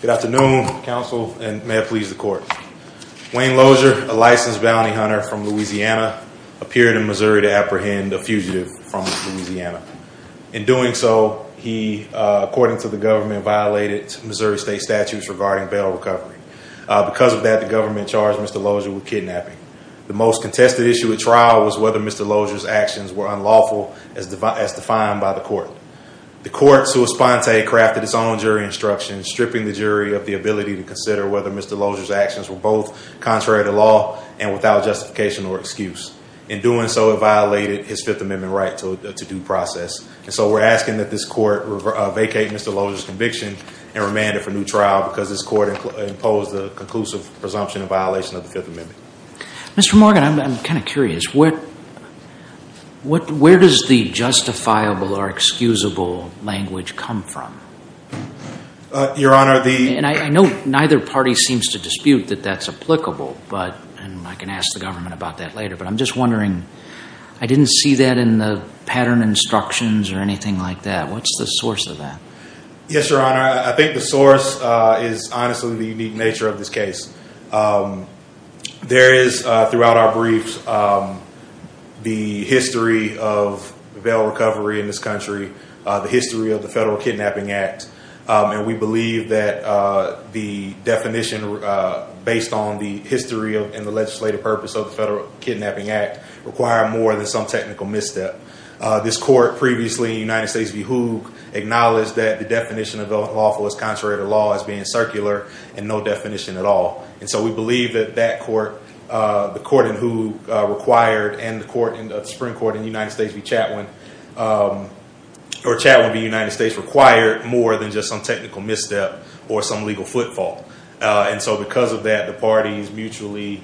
Good afternoon, counsel, and may it please the court. Wayne Lozier, a licensed bounty hunter from Louisiana, appeared in Missouri to apprehend a fugitive from Louisiana. In doing so, he, according to the government, violated Missouri state statutes regarding bail recovery. Because of that, the government charged Mr. Lozier with kidnapping. The most contested issue at trial was whether Mr. Lozier's actions were unlawful as defined by the court. The court, sua sponte, crafted its own jury instruction, stripping the jury of the ability to consider whether Mr. Lozier's actions were both contrary to law and without justification or excuse. In doing so, it violated his Fifth Amendment right to due process. So we're asking that this court vacate Mr. Lozier's conviction and remand it for new trial because this court imposed a conclusive presumption of violation of the Fifth Amendment. Mr. Morgan, I'm kind of curious. Where does the justifiable or excusable language come from? Your Honor, the- And I know neither party seems to dispute that that's applicable, and I can ask the government about that later. But I'm just wondering, I didn't see that in the pattern instructions or anything like that. What's the source of that? Yes, Your Honor. I think the source is honestly the unique nature of this case. There is, throughout our briefs, the history of bail recovery in this country, the history of the Federal Kidnapping Act, and we believe that the definition based on the history and the legislative purpose of the Federal Kidnapping Act require more than some technical misstep. This court previously, United States v. Hoog, acknowledged that the definition of lawful is contrary to law as being circular and no definition at all. And so we believe that that court, the court in Hoog required, and the Supreme Court in the United States v. Chatwin, or Chatwin v. United States, required more than just some technical misstep or some legal footfall. And so because of that, the parties mutually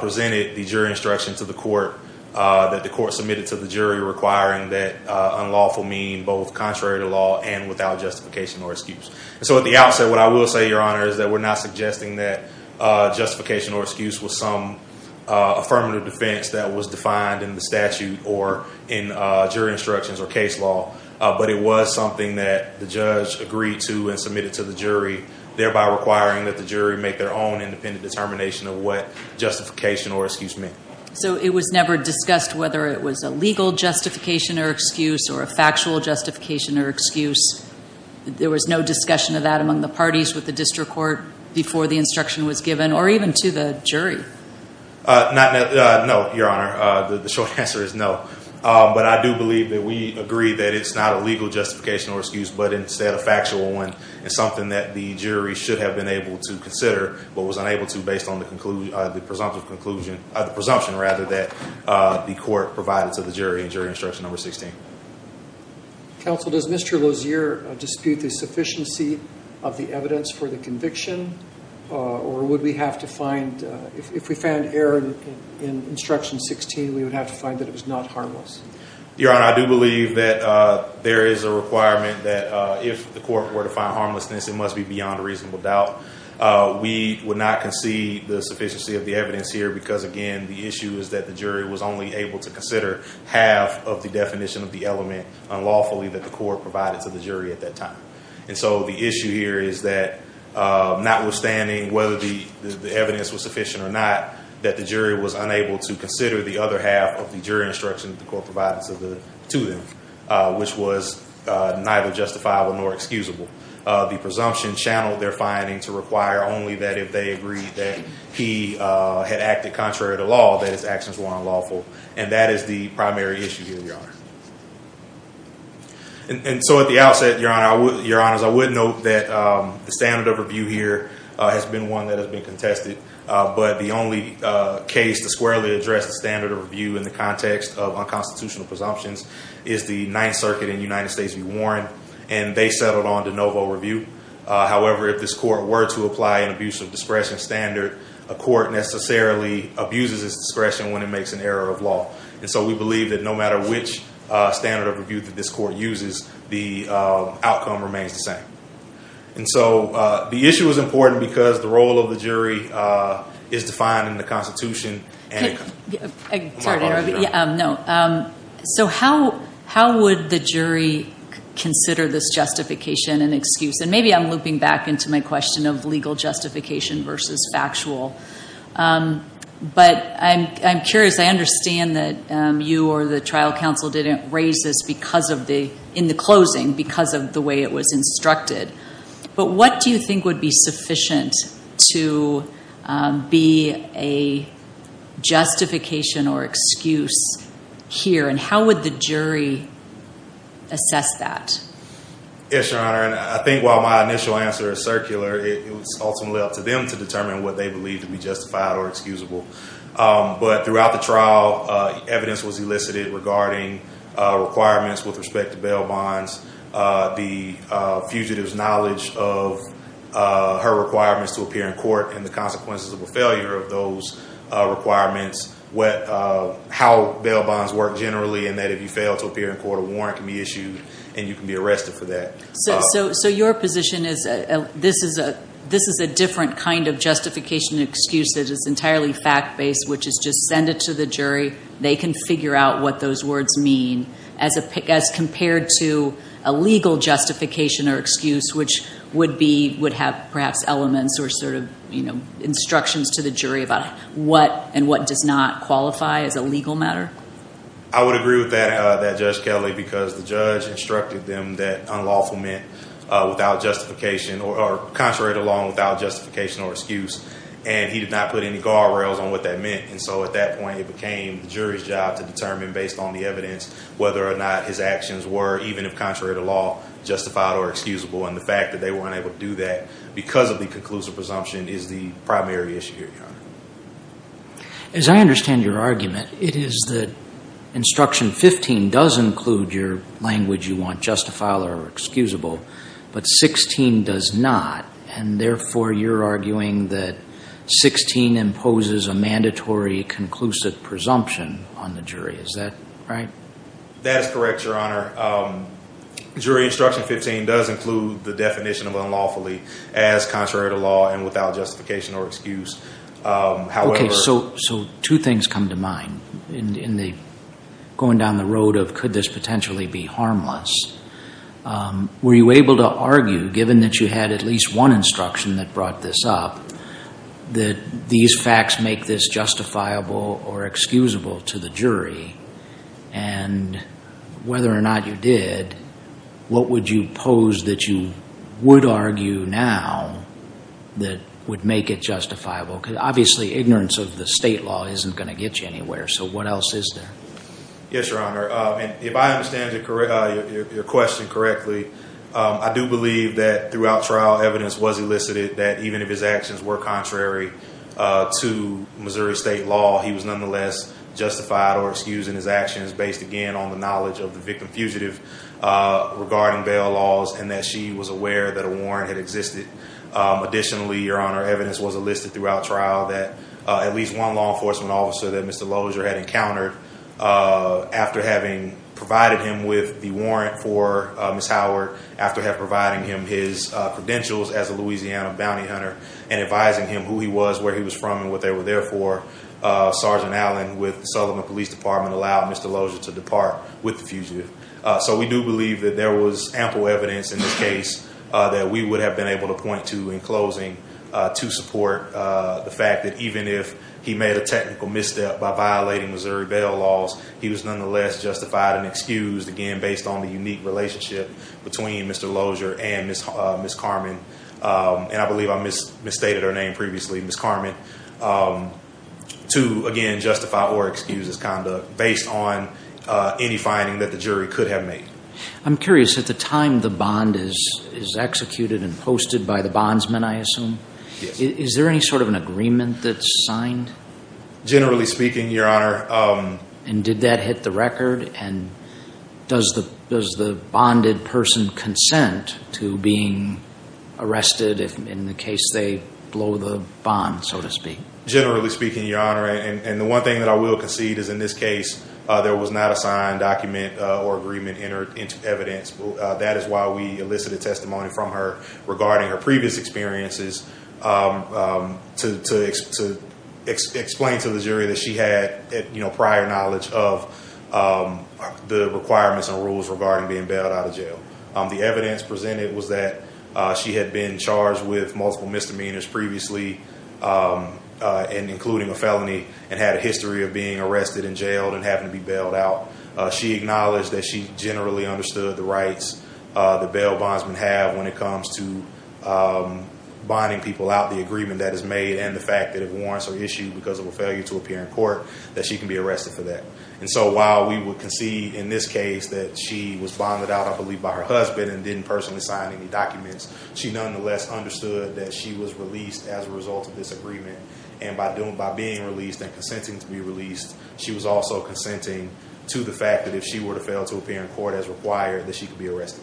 presented the jury instructions to the court that the court submitted to the jury requiring that unlawful mean both contrary to law and without justification or excuse. So at the outset, what I will say, Your Honor, is that we're not suggesting that justification or excuse was some affirmative defense that was defined in the statute or in jury instructions or case law, but it was something that the judge agreed to and submitted to the jury, thereby requiring that the jury make their own independent determination of what justification or excuse meant. So it was never discussed whether it was a legal justification or excuse or a factual justification or excuse. There was no discussion of that among the parties with the district court before the instruction was given or even to the jury? Not, no, Your Honor. The short answer is no. But I do believe that we agree that it's not a legal justification or excuse, but instead a factual one. It's something that the jury should have been able to consider, but was unable to based on the presumption that the court provided to the jury in jury instruction number 16. Counsel, does Mr. Lozier dispute the sufficiency of the evidence for the conviction or would we have to find, if we found error in instruction 16, we would have to find that it was not harmless? Your Honor, I do believe that there is a requirement that if the court were to find harmlessness, it must be beyond a reasonable doubt. We would not concede the sufficiency of the evidence here because, again, the issue is that the jury was only able to consider half of the definition of the element unlawfully that the court provided to the jury at that time. And so the issue here is that notwithstanding whether the evidence was sufficient or not, that the jury was unable to consider the other half of the jury instruction that the court provided to them, which was neither justifiable nor excusable. The presumption channeled their finding to require only that if they agreed that he had acted contrary to law, that his actions were unlawful. And that is the primary issue here, Your Honor. And so at the outset, Your Honor, I would note that the standard of review here has been one that has been contested, but the only case to squarely address the standard of review in the context of unconstitutional presumptions is the Ninth Circuit in the United States, where there is a 12-0 review. However, if this court were to apply an abuse of discretion standard, a court necessarily abuses its discretion when it makes an error of law. And so we believe that no matter which standard of review that this court uses, the outcome remains the same. And so the issue is important because the role of the jury is defined in the Constitution. So how would the jury consider this justification and excuse? And maybe I'm looping back into my question of legal justification versus factual. But I'm curious. I understand that you or the trial counsel didn't raise this in the closing because of the way it was instructed. But what do you think would be sufficient to be a justification or excuse here, and how would the jury assess that? Yes, Your Honor, and I think while my initial answer is circular, it was ultimately up to them to determine what they believed to be justified or excusable. But throughout the trial, evidence was elicited regarding requirements with respect to bail bonds, the fugitive's knowledge of her requirements to appear in court, and the consequences of a failure of those requirements, how bail bonds work generally, and that if you fail to appear in court, a warrant can be issued and you can be arrested for that. So your position is this is a different kind of justification and excuse that is entirely fact-based, which is just send it to the jury. They can figure out what those words mean as compared to a legal justification or excuse, which would have perhaps elements or sort of instructions to the jury about what and what does not qualify as a legal matter? I would agree with that, Judge Kelly, because the judge instructed them that unlawful meant without justification, or contrary to law, without justification or excuse. And he did not put any guardrails on what that meant. And so at that point, it became the jury's job to determine, based on the evidence, whether or not his actions were, even if contrary to law, justified or excusable. And the fact that they weren't able to do that because of the conclusive presumption is the primary issue here, Your Honor. As I understand your argument, it is that Instruction 15 does include your language you want justified or excusable, but 16 does not. And therefore, you're arguing that 16 imposes a mandatory conclusive presumption on the jury. Is that right? That is correct, Your Honor. Jury Instruction 15 does include the definition of unlawfully as contrary to law and without justification or excuse. Okay, so two things come to mind. Going down the road of could this potentially be harmless, were you able to argue, given that you had at least one instruction that brought this up, that these facts make this justifiable or excusable to the jury? And whether or not you did, what would you pose that you would argue now that would make it justifiable? Because obviously, ignorance of the state law isn't going to get you anywhere. So what else is there? Yes, Your Honor. If I understand your question correctly, I do believe that throughout trial evidence was elicited that even if his actions were contrary to Missouri state law, he was nonetheless justified or excused in his actions based, again, on the knowledge of the victim fugitive regarding bail laws and that she was aware that a warrant had existed. Additionally, Your Honor, evidence was elicited throughout trial that at least one law enforcement officer that Mr. Lozier had encountered after having provided him with the warrant for Ms. Howard, after providing him his credentials as a Louisiana bounty hunter and advising him who he was, where he was from, and what they were there for, Sergeant Allen with the Sutherland Police Department allowed Mr. Lozier to depart with the fugitive. So we do believe that there was ample evidence in this case that we would have been able to point to in closing to support the fact that even if he made a technical misstep by violating Missouri bail laws, he was nonetheless justified and excused, again, based on the unique relationship between Mr. Lozier and Ms. Carman, and I believe I misstated her name previously, Ms. Carman, to, again, justify or excuse his conduct based on any finding that the jury could have made. I'm curious, at the time the bond is executed and posted by the bondsman, I assume, is there any sort of an agreement that's signed? Generally speaking, Your Honor. And did that hit the record, and does the bonded person consent to being arrested in the case they blow the bond, so to speak? Generally speaking, Your Honor, and the one thing that I will concede is in this case there was not a signed document or agreement entered into evidence. That is why we elicited testimony from her regarding her previous experiences to explain to the jury that she had prior knowledge of the requirements and rules regarding being bailed out of jail. The evidence presented was that she had been charged with multiple misdemeanors previously, including a felony, and had a history of being arrested in jail and having to be bailed out. She acknowledged that she generally understood the rights the bail bondsmen have when it comes to bonding people out, the agreement that is made, and the fact that if warrants are issued because of a failure to appear in court, that she can be arrested for that. And so while we would concede in this case that she was bonded out, I believe, by her husband and didn't personally sign any documents, she nonetheless understood that she was released as a result of this agreement. And by being released and consenting to be released, she was also consenting to the fact that if she were to fail to appear in court as required, that she could be arrested.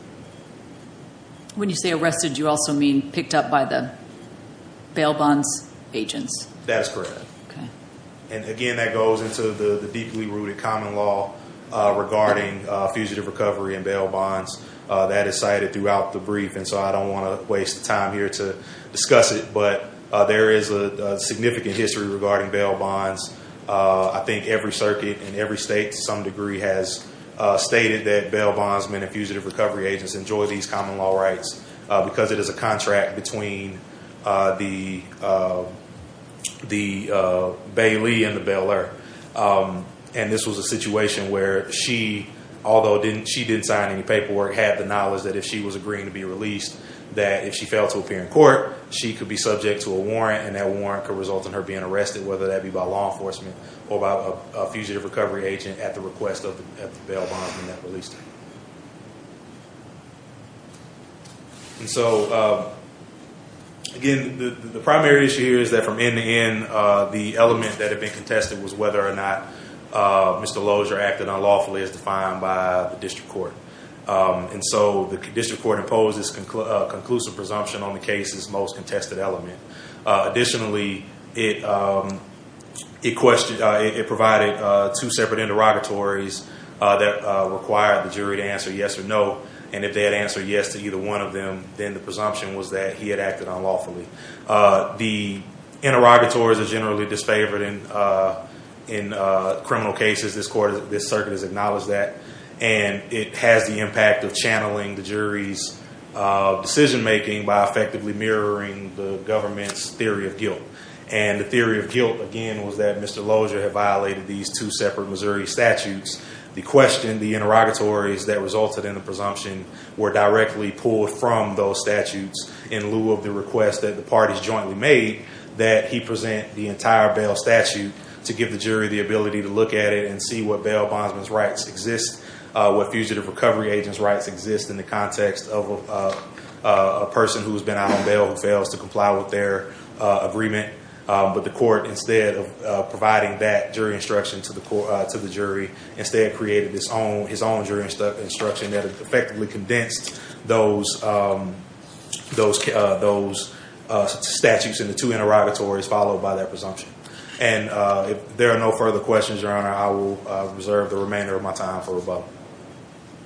When you say arrested, do you also mean picked up by the bail bonds agents? That is correct. And again, that goes into the deeply rooted common law regarding fugitive recovery and bail bonds. That is cited throughout the brief, and so I don't want to waste time here to discuss it, but there is a significant history regarding bail bonds. I think every circuit in every state to some degree has stated that bail bondsmen and fugitive recovery agents enjoy these common law rights because it is a contract between the bailee and the bailer. And this was a situation where she, although she didn't sign any paperwork, had the knowledge that if she was agreeing to be released, that if she failed to appear in court, she could be subject to a warrant, and that warrant could result in her being arrested, whether that be by law enforcement or by a fugitive recovery agent at the request of the bail bondsman that released her. And so, again, the primary issue here is that from end to end, the element that had been contested was whether or not Mr. Lozier acted unlawfully as defined by the district court. And so the district court imposed this conclusive presumption on the case's most contested element. Additionally, it provided two separate interrogatories that required the jury to answer yes or no, and if they had answered yes to either one of them, then the presumption was that he had acted unlawfully. The interrogatories are generally disfavored in criminal cases. This circuit has acknowledged that, and it has the impact of channeling the jury's decision-making by effectively mirroring the government's theory of guilt. And the theory of guilt, again, was that Mr. Lozier had violated these two separate Missouri statutes. The question, the interrogatories that resulted in the presumption were directly pulled from those statutes in lieu of the request that the parties jointly made that he present the entire bail statute to give the jury the ability to look at it and see what bail bondsman's rights exist, what fugitive recovery agent's rights exist in the context of a person who has been out on bail who fails to comply with their agreement. But the court, instead of providing that jury instruction to the jury, instead created his own jury instruction that effectively condensed those statutes in the two interrogatories followed by that presumption. And if there are no further questions, Your Honor, I will reserve the remainder of my time for rebuttal.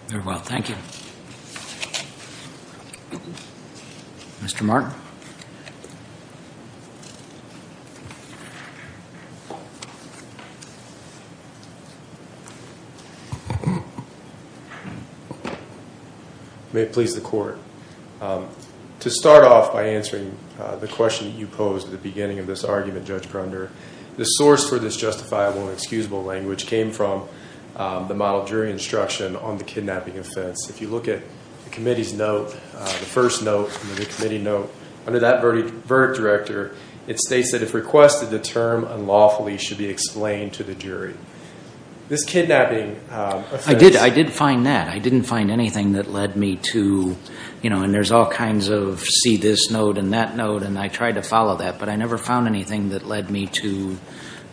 Very well. Thank you. Mr. Mark. May it please the Court. To start off by answering the question that you posed at the beginning of this argument, Judge Grunder, the source for this justifiable and excusable language came from the model jury instruction on the kidnapping offense. If you look at the committee's note, the first note from the committee note, under that verdict director, it states that if requested, the term unlawfully should be explained to the jury. This kidnapping offense... I did find that. I didn't find anything that led me to, you know, and there's all kinds of see this note and that note, and I tried to follow that, but I never found anything that led me to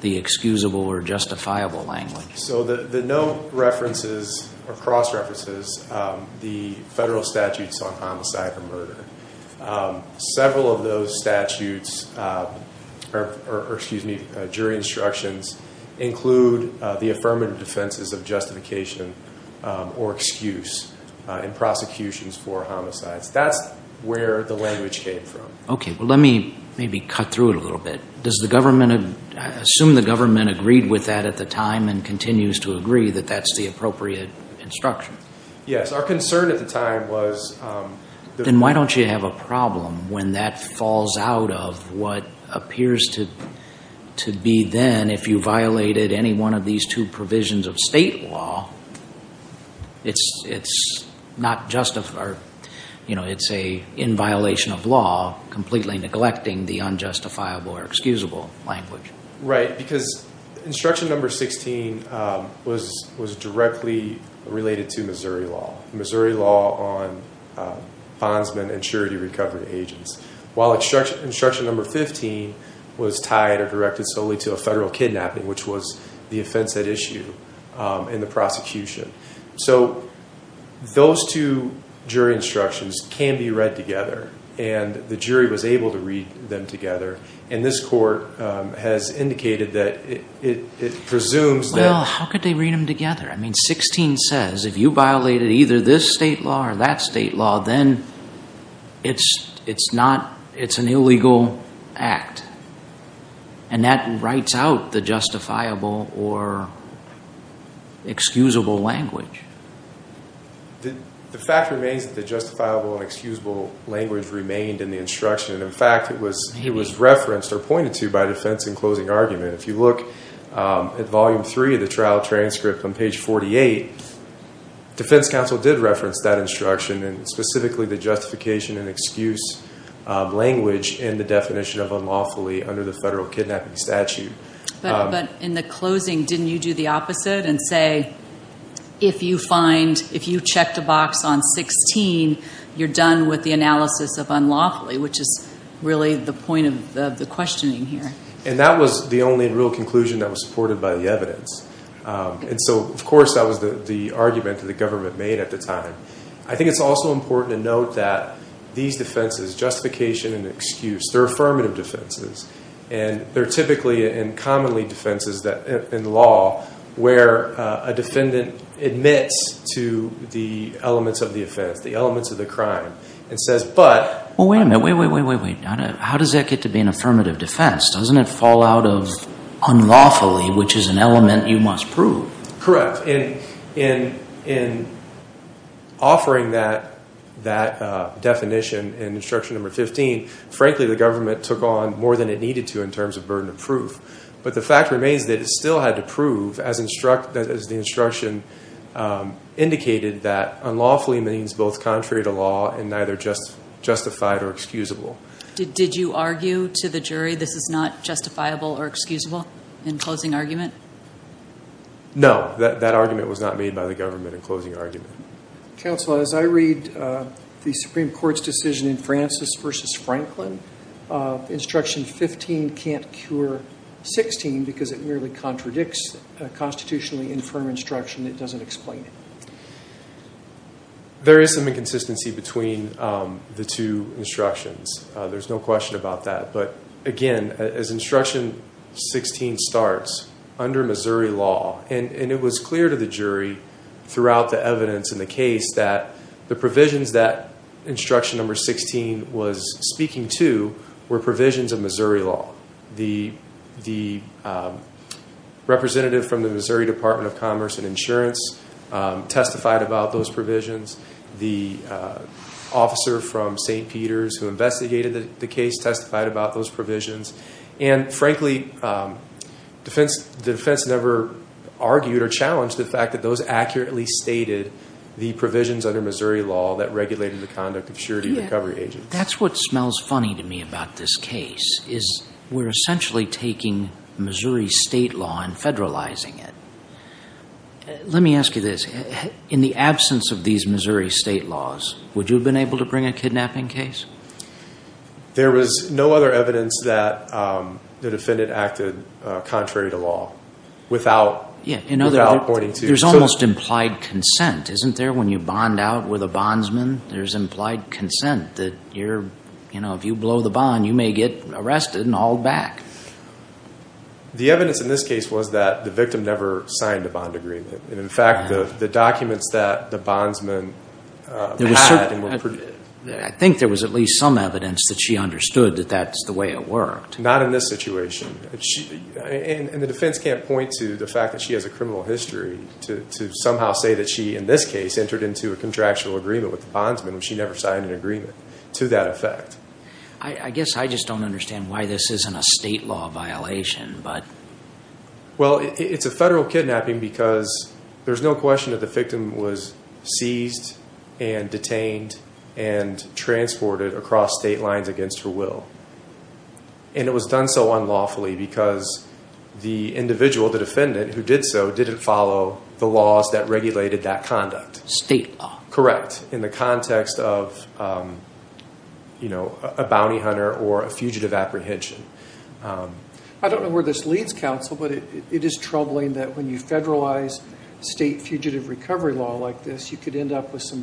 the excusable or justifiable language. So the note references or cross-references the federal statutes on homicide or murder. Several of those statutes, or excuse me, jury instructions, include the affirmative defenses of justification or excuse in prosecutions for homicides. That's where the language came from. Okay. Well, let me maybe cut through it a little bit. Does the government assume the government agreed with that at the time and continues to agree that that's the appropriate instruction? Yes. Our concern at the time was... Then why don't you have a problem when that falls out of what appears to be then, if you violated any one of these two provisions of state law, it's not justified or, you know, it's in violation of law, completely neglecting the unjustifiable or excusable language? Right, because instruction number 16 was directly related to Missouri law, Missouri law on bondsmen and surety recovery agents, while instruction number 15 was tied or directed solely to a federal kidnapping, which was the offense at issue in the prosecution. So those two jury instructions can be read together, and the jury was able to read them together, and this court has indicated that it presumes that... Well, how could they read them together? I mean, 16 says if you violated either this state law or that state law, then it's an illegal act. And that writes out the justifiable or excusable language. The fact remains that the justifiable and excusable language remained in the instruction. In fact, it was referenced or pointed to by defense in closing argument. If you look at volume three of the trial transcript on page 48, defense counsel did reference that instruction, and specifically the justification and excuse language and the definition of unlawfully under the federal kidnapping statute. But in the closing, didn't you do the opposite and say, if you checked a box on 16, you're done with the analysis of unlawfully, which is really the point of the questioning here? And that was the only real conclusion that was supported by the evidence. And so, of course, that was the argument that the government made at the time. I think it's also important to note that these defenses, justification and excuse, they're affirmative defenses. And they're typically and commonly defenses in law where a defendant admits to the elements of the offense, the elements of the crime, and says but. Well, wait a minute. Wait, wait, wait, wait, wait. How does that get to be an affirmative defense? Doesn't it fall out of unlawfully, which is an element you must prove? Correct. In offering that definition in instruction number 15, frankly, the government took on more than it needed to in terms of burden of proof. But the fact remains that it still had to prove, as the instruction indicated, that unlawfully means both contrary to law and neither justified or excusable. Did you argue to the jury this is not justifiable or excusable in closing argument? No. That argument was not made by the government in closing argument. Counsel, as I read the Supreme Court's decision in Francis v. Franklin, instruction 15 can't cure 16 because it merely contradicts constitutionally infirm instruction. It doesn't explain it. There is some inconsistency between the two instructions. There's no question about that. But, again, as instruction 16 starts, under Missouri law, and it was clear to the jury throughout the evidence in the case that the provisions that instruction number 16 was speaking to were provisions of Missouri law. The representative from the Missouri Department of Commerce and Insurance testified about those provisions. The officer from St. Peter's who investigated the case testified about those provisions. And, frankly, the defense never argued or challenged the fact that those accurately stated the provisions under Missouri law that regulated the conduct of surety and recovery agents. That's what smells funny to me about this case, is we're essentially taking Missouri state law and federalizing it. Let me ask you this. In the absence of these Missouri state laws, would you have been able to bring a kidnapping case? There was no other evidence that the defendant acted contrary to law without pointing to it. There's almost implied consent, isn't there, when you bond out with a bondsman? There's implied consent that if you blow the bond, you may get arrested and hauled back. The evidence in this case was that the victim never signed a bond agreement. And, in fact, the documents that the bondsman had. I think there was at least some evidence that she understood that that's the way it worked. Not in this situation. And the defense can't point to the fact that she has a criminal history to somehow say that she, in this case, entered into a contractual agreement with the bondsman when she never signed an agreement to that effect. I guess I just don't understand why this isn't a state law violation. Well, it's a federal kidnapping because there's no question that the victim was seized and detained and transported across state lines against her will. And it was done so unlawfully because the individual, the defendant, who did so, didn't follow the laws that regulated that conduct. State law. Correct, in the context of a bounty hunter or a fugitive apprehension. I don't know where this leads, counsel, but it is troubling that when you federalize state fugitive recovery law like this, you could end up with some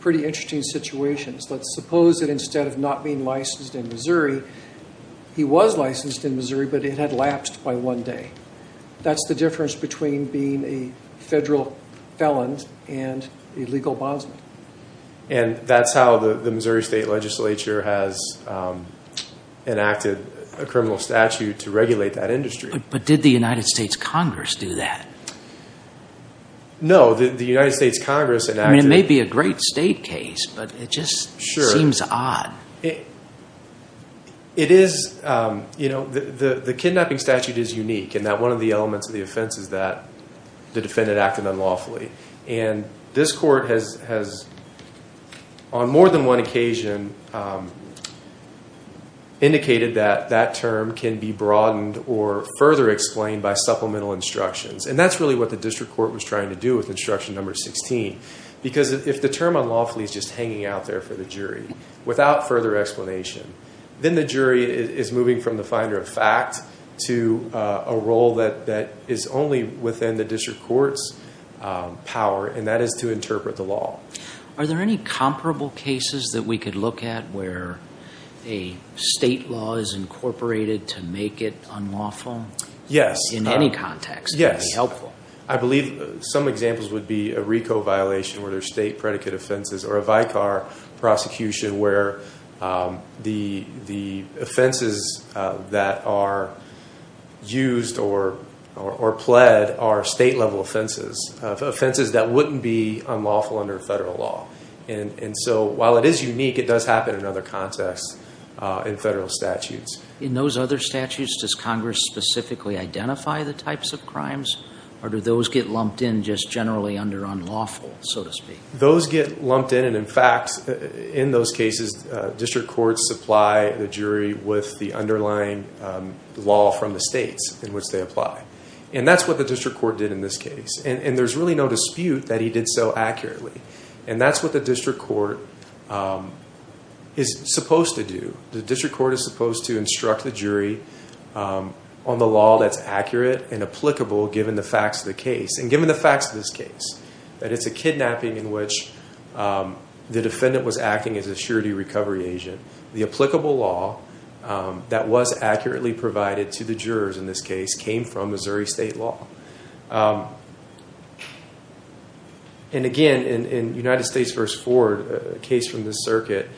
pretty interesting situations. Let's suppose that instead of not being licensed in Missouri, he was licensed in Missouri, but it had lapsed by one day. That's the difference between being a federal felon and a legal bondsman. And that's how the Missouri State Legislature has enacted a criminal statute to regulate that industry. But did the United States Congress do that? No, the United States Congress enacted it. I mean, it may be a great state case, but it just seems odd. It is, you know, the kidnapping statute is unique in that one of the elements of the offense is that the defendant acted unlawfully. And this court has, on more than one occasion, indicated that that term can be broadened or further explained by supplemental instructions. And that's really what the district court was trying to do with instruction number 16. Because if the term unlawfully is just hanging out there for the jury, without further explanation, then the jury is moving from the finder of fact to a role that is only within the district court's power, and that is to interpret the law. Are there any comparable cases that we could look at where a state law is incorporated to make it unlawful? Yes. In any context, it would be helpful. I believe some examples would be a RICO violation, where there's state predicate offenses, or a Vicar prosecution where the offenses that are used or pled are state-level offenses, offenses that wouldn't be unlawful under federal law. And so while it is unique, it does happen in other contexts in federal statutes. In those other statutes, does Congress specifically identify the types of crimes, or do those get lumped in just generally under unlawful, so to speak? Those get lumped in, and in fact, in those cases, district courts supply the jury with the underlying law from the states in which they apply. And that's what the district court did in this case. And there's really no dispute that he did so accurately. And that's what the district court is supposed to do. The district court is supposed to instruct the jury on the law that's accurate and applicable given the facts of the case. And given the facts of this case, that it's a kidnapping in which the defendant was acting as a surety recovery agent, the applicable law that was accurately provided to the jurors in this case came from Missouri State law. And again, in United States v. Ford, a case from this circuit,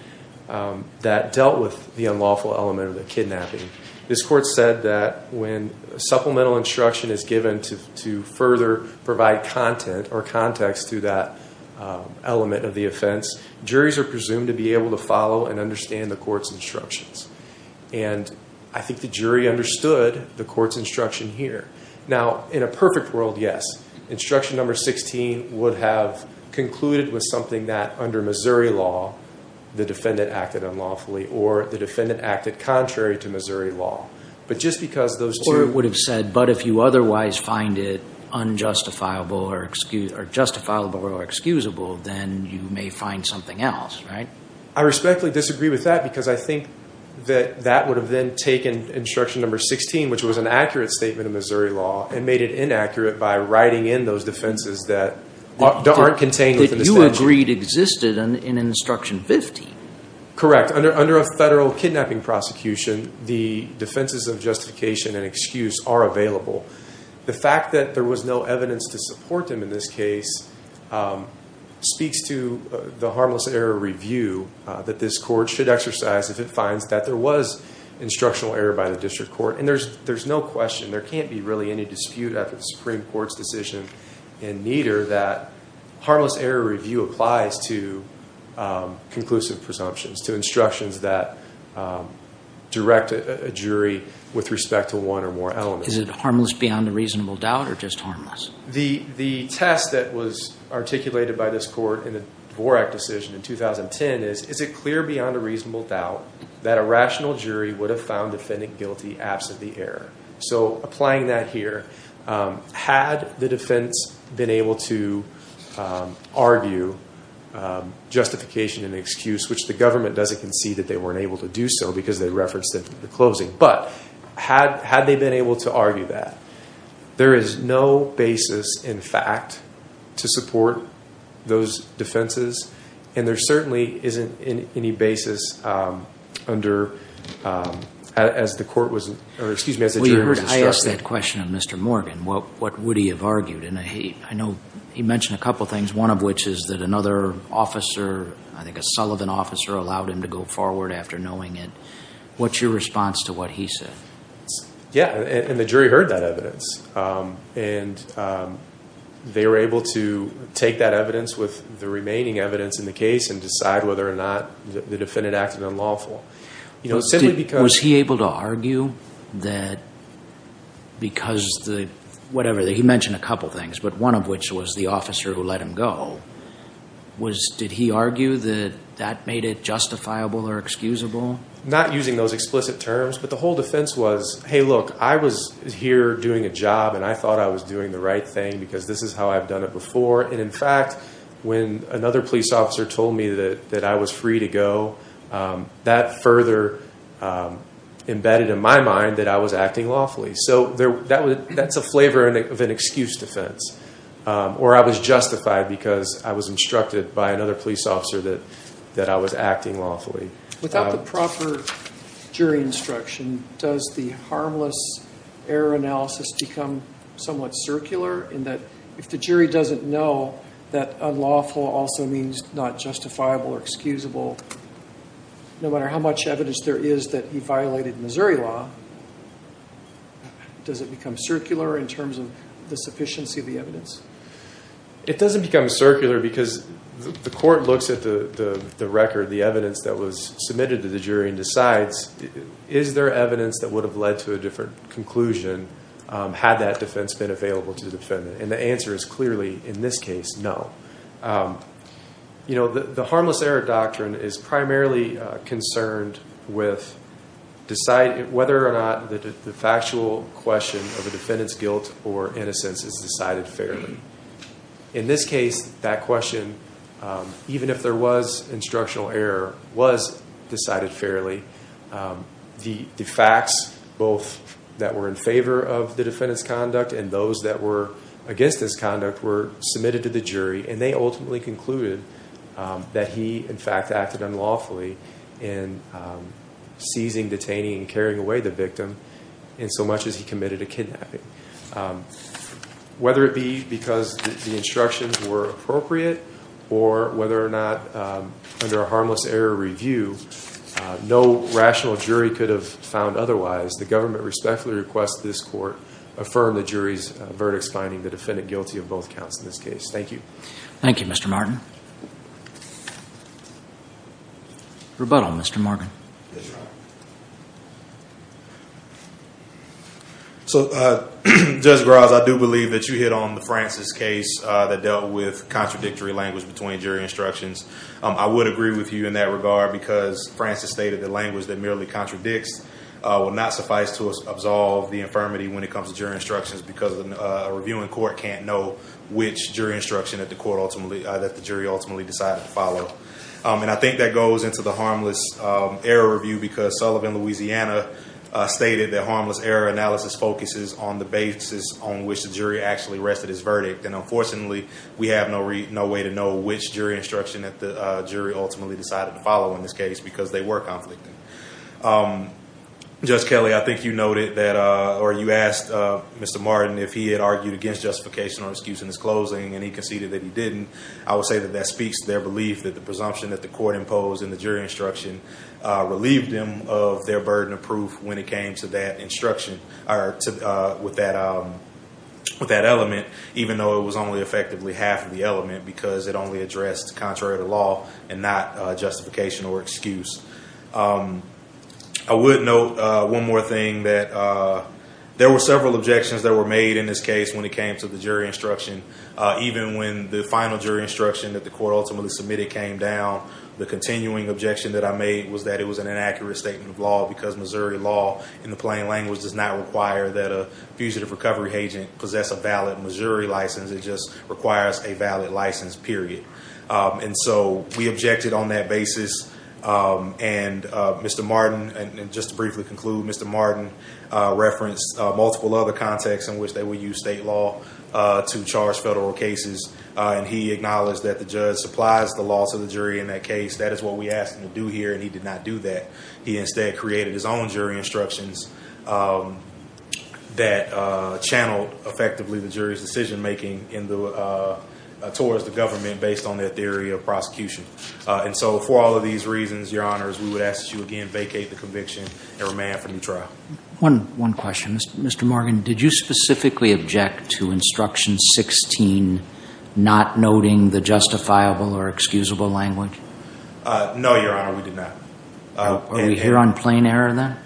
that dealt with the unlawful element of the kidnapping, this court said that when supplemental instruction is given to further provide content or context to that element of the offense, juries are presumed to be able to follow and understand the court's instructions. And I think the jury understood the court's instruction here. Now, in a perfect world, yes. Instruction number 16 would have concluded with something that, under Missouri law, the defendant acted unlawfully or the defendant acted contrary to Missouri law. But just because those two. The court would have said, but if you otherwise find it unjustifiable or excusable, then you may find something else, right? I respectfully disagree with that because I think that that would have then taken instruction number 16, which was an accurate statement of Missouri law, and made it inaccurate by writing in those defenses that aren't contained within the statute. The agreed existed in instruction 15. Correct. Under a federal kidnapping prosecution, the defenses of justification and excuse are available. The fact that there was no evidence to support them in this case speaks to the harmless error review that this court should exercise if it finds that there was instructional error by the district court. And there's no question. There can't be really any dispute at the Supreme Court's decision, and neither that harmless error review applies to conclusive presumptions, to instructions that direct a jury with respect to one or more elements. Is it harmless beyond a reasonable doubt or just harmless? The test that was articulated by this court in the Dvorak decision in 2010 is, is it clear beyond a reasonable doubt that a rational jury would have found defendant guilty absent the error? So applying that here, had the defense been able to argue justification and excuse, which the government doesn't concede that they weren't able to do so because they referenced it in the closing, but had they been able to argue that? There is no basis in fact to support those defenses, and there certainly isn't any basis as the jury was instructed. I asked that question of Mr. Morgan. What would he have argued? I know he mentioned a couple of things, one of which is that another officer, I think a Sullivan officer allowed him to go forward after knowing it. What's your response to what he said? Yeah, and the jury heard that evidence. And they were able to take that evidence with the remaining evidence in the case and decide whether or not the defendant acted unlawful. Was he able to argue that because the, whatever, he mentioned a couple of things, but one of which was the officer who let him go. Did he argue that that made it justifiable or excusable? Not using those explicit terms, but the whole defense was, hey, look, I was here doing a job, and I thought I was doing the right thing because this is how I've done it before. And, in fact, when another police officer told me that I was free to go, that further embedded in my mind that I was acting lawfully. So that's a flavor of an excuse defense, or I was justified because I was instructed by another police officer that I was acting lawfully. Without the proper jury instruction, does the harmless error analysis become somewhat circular in that if the jury doesn't know that unlawful also means not justifiable or excusable, no matter how much evidence there is that he violated Missouri law, does it become circular in terms of the sufficiency of the evidence? It doesn't become circular because the court looks at the record, the evidence that was submitted to the jury, and decides is there evidence that would have led to a different conclusion had that defense been available to the defendant? And the answer is clearly, in this case, no. You know, the harmless error doctrine is primarily concerned with whether or not the factual question of a defendant's guilt or innocence is decided fairly. In this case, that question, even if there was instructional error, was decided fairly. The facts, both that were in favor of the defendant's conduct and those that were against his conduct, were submitted to the jury, and they ultimately concluded that he, in fact, acted unlawfully in seizing, detaining, and carrying away the victim in so much as he committed a kidnapping. Whether it be because the instructions were appropriate or whether or not, under a harmless error review, no rational jury could have found otherwise, the government respectfully requests this court affirm the jury's verdicts finding the defendant guilty of both counts in this case. Thank you. Thank you, Mr. Martin. Rebuttal, Mr. Morgan. Yes, Your Honor. So, Judge Graz, I do believe that you hit on the Francis case that dealt with contradictory language between jury instructions. I would agree with you in that regard because Francis stated that language that merely contradicts will not suffice to absolve the infirmity when it comes to jury instructions because a reviewing court can't know which jury instruction that the jury ultimately decided to follow. And I think that goes into the harmless error review because Sullivan, Louisiana, stated that harmless error analysis focuses on the basis on which the jury actually rested its verdict. And unfortunately, we have no way to know which jury instruction that the jury ultimately decided to follow in this case because they were conflicting. Judge Kelly, I think you noted that, or you asked Mr. Martin if he had argued against justification or excuse in his closing and he conceded that he didn't. I would say that that speaks to their belief that the presumption that the court imposed in the jury instruction relieved them of their burden of proof when it came to that instruction, or with that element, even though it was only effectively half of the element because it only addressed contrary to law and not justification or excuse. I would note one more thing that there were several objections that were made in this case when it came to the jury instruction, even when the final jury instruction that the court ultimately submitted came down. The continuing objection that I made was that it was an inaccurate statement of law because Missouri law, in the plain language, does not require that a fugitive recovery agent possess a valid Missouri license. It just requires a valid license, period. And so we objected on that basis. And Mr. Martin, just to briefly conclude, Mr. Martin referenced multiple other contexts in which they would use state law to charge federal cases. And he acknowledged that the judge supplies the loss of the jury in that case. That is what we asked him to do here, and he did not do that. He instead created his own jury instructions that channeled effectively the jury's decision-making towards the government based on their theory of prosecution. And so for all of these reasons, Your Honors, we would ask that you again vacate the conviction and remand for new trial. One question. Mr. Morgan, did you specifically object to Instruction 16 not noting the justifiable or excusable language? No, Your Honor, we did not. Are we here on plain error then?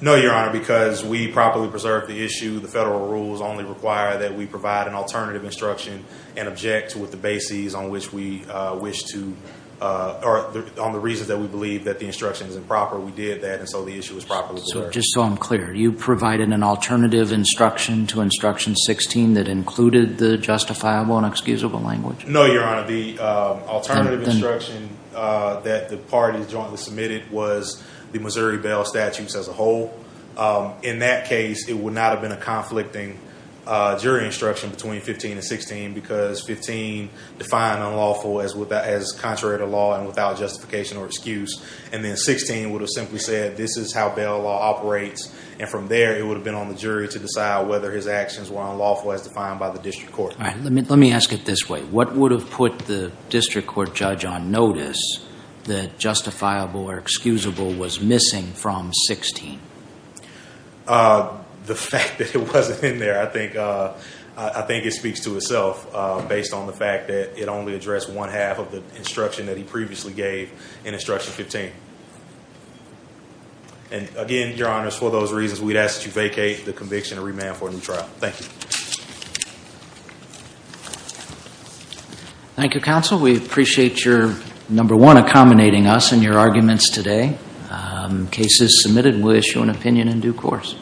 No, Your Honor, because we properly preserved the issue. The federal rules only require that we provide an alternative instruction and object with the bases on which we wish to, or on the reasons that we believe that the instruction is improper. We did that, and so the issue is properly preserved. Just so I'm clear, you provided an alternative instruction to Instruction 16 that included the justifiable and excusable language? No, Your Honor. The alternative instruction that the parties jointly submitted was the Missouri bail statutes as a whole. In that case, it would not have been a conflicting jury instruction between 15 and 16 because 15 defined unlawful as contrary to law and without justification or excuse. And then 16 would have simply said this is how bail law operates, and from there it would have been on the jury to decide whether his actions were unlawful as defined by the district court. Let me ask it this way. What would have put the district court judge on notice that justifiable or excusable was missing from 16? The fact that it wasn't in there. I think it speaks to itself based on the fact that it only addressed one half of the instruction that he previously gave in Instruction 15. And again, Your Honor, for those reasons, we'd ask that you vacate the conviction and remand for a new trial. Thank you. Thank you, Counsel. We appreciate your, number one, accommodating us in your arguments today. The case is submitted, and we'll issue an opinion in due course.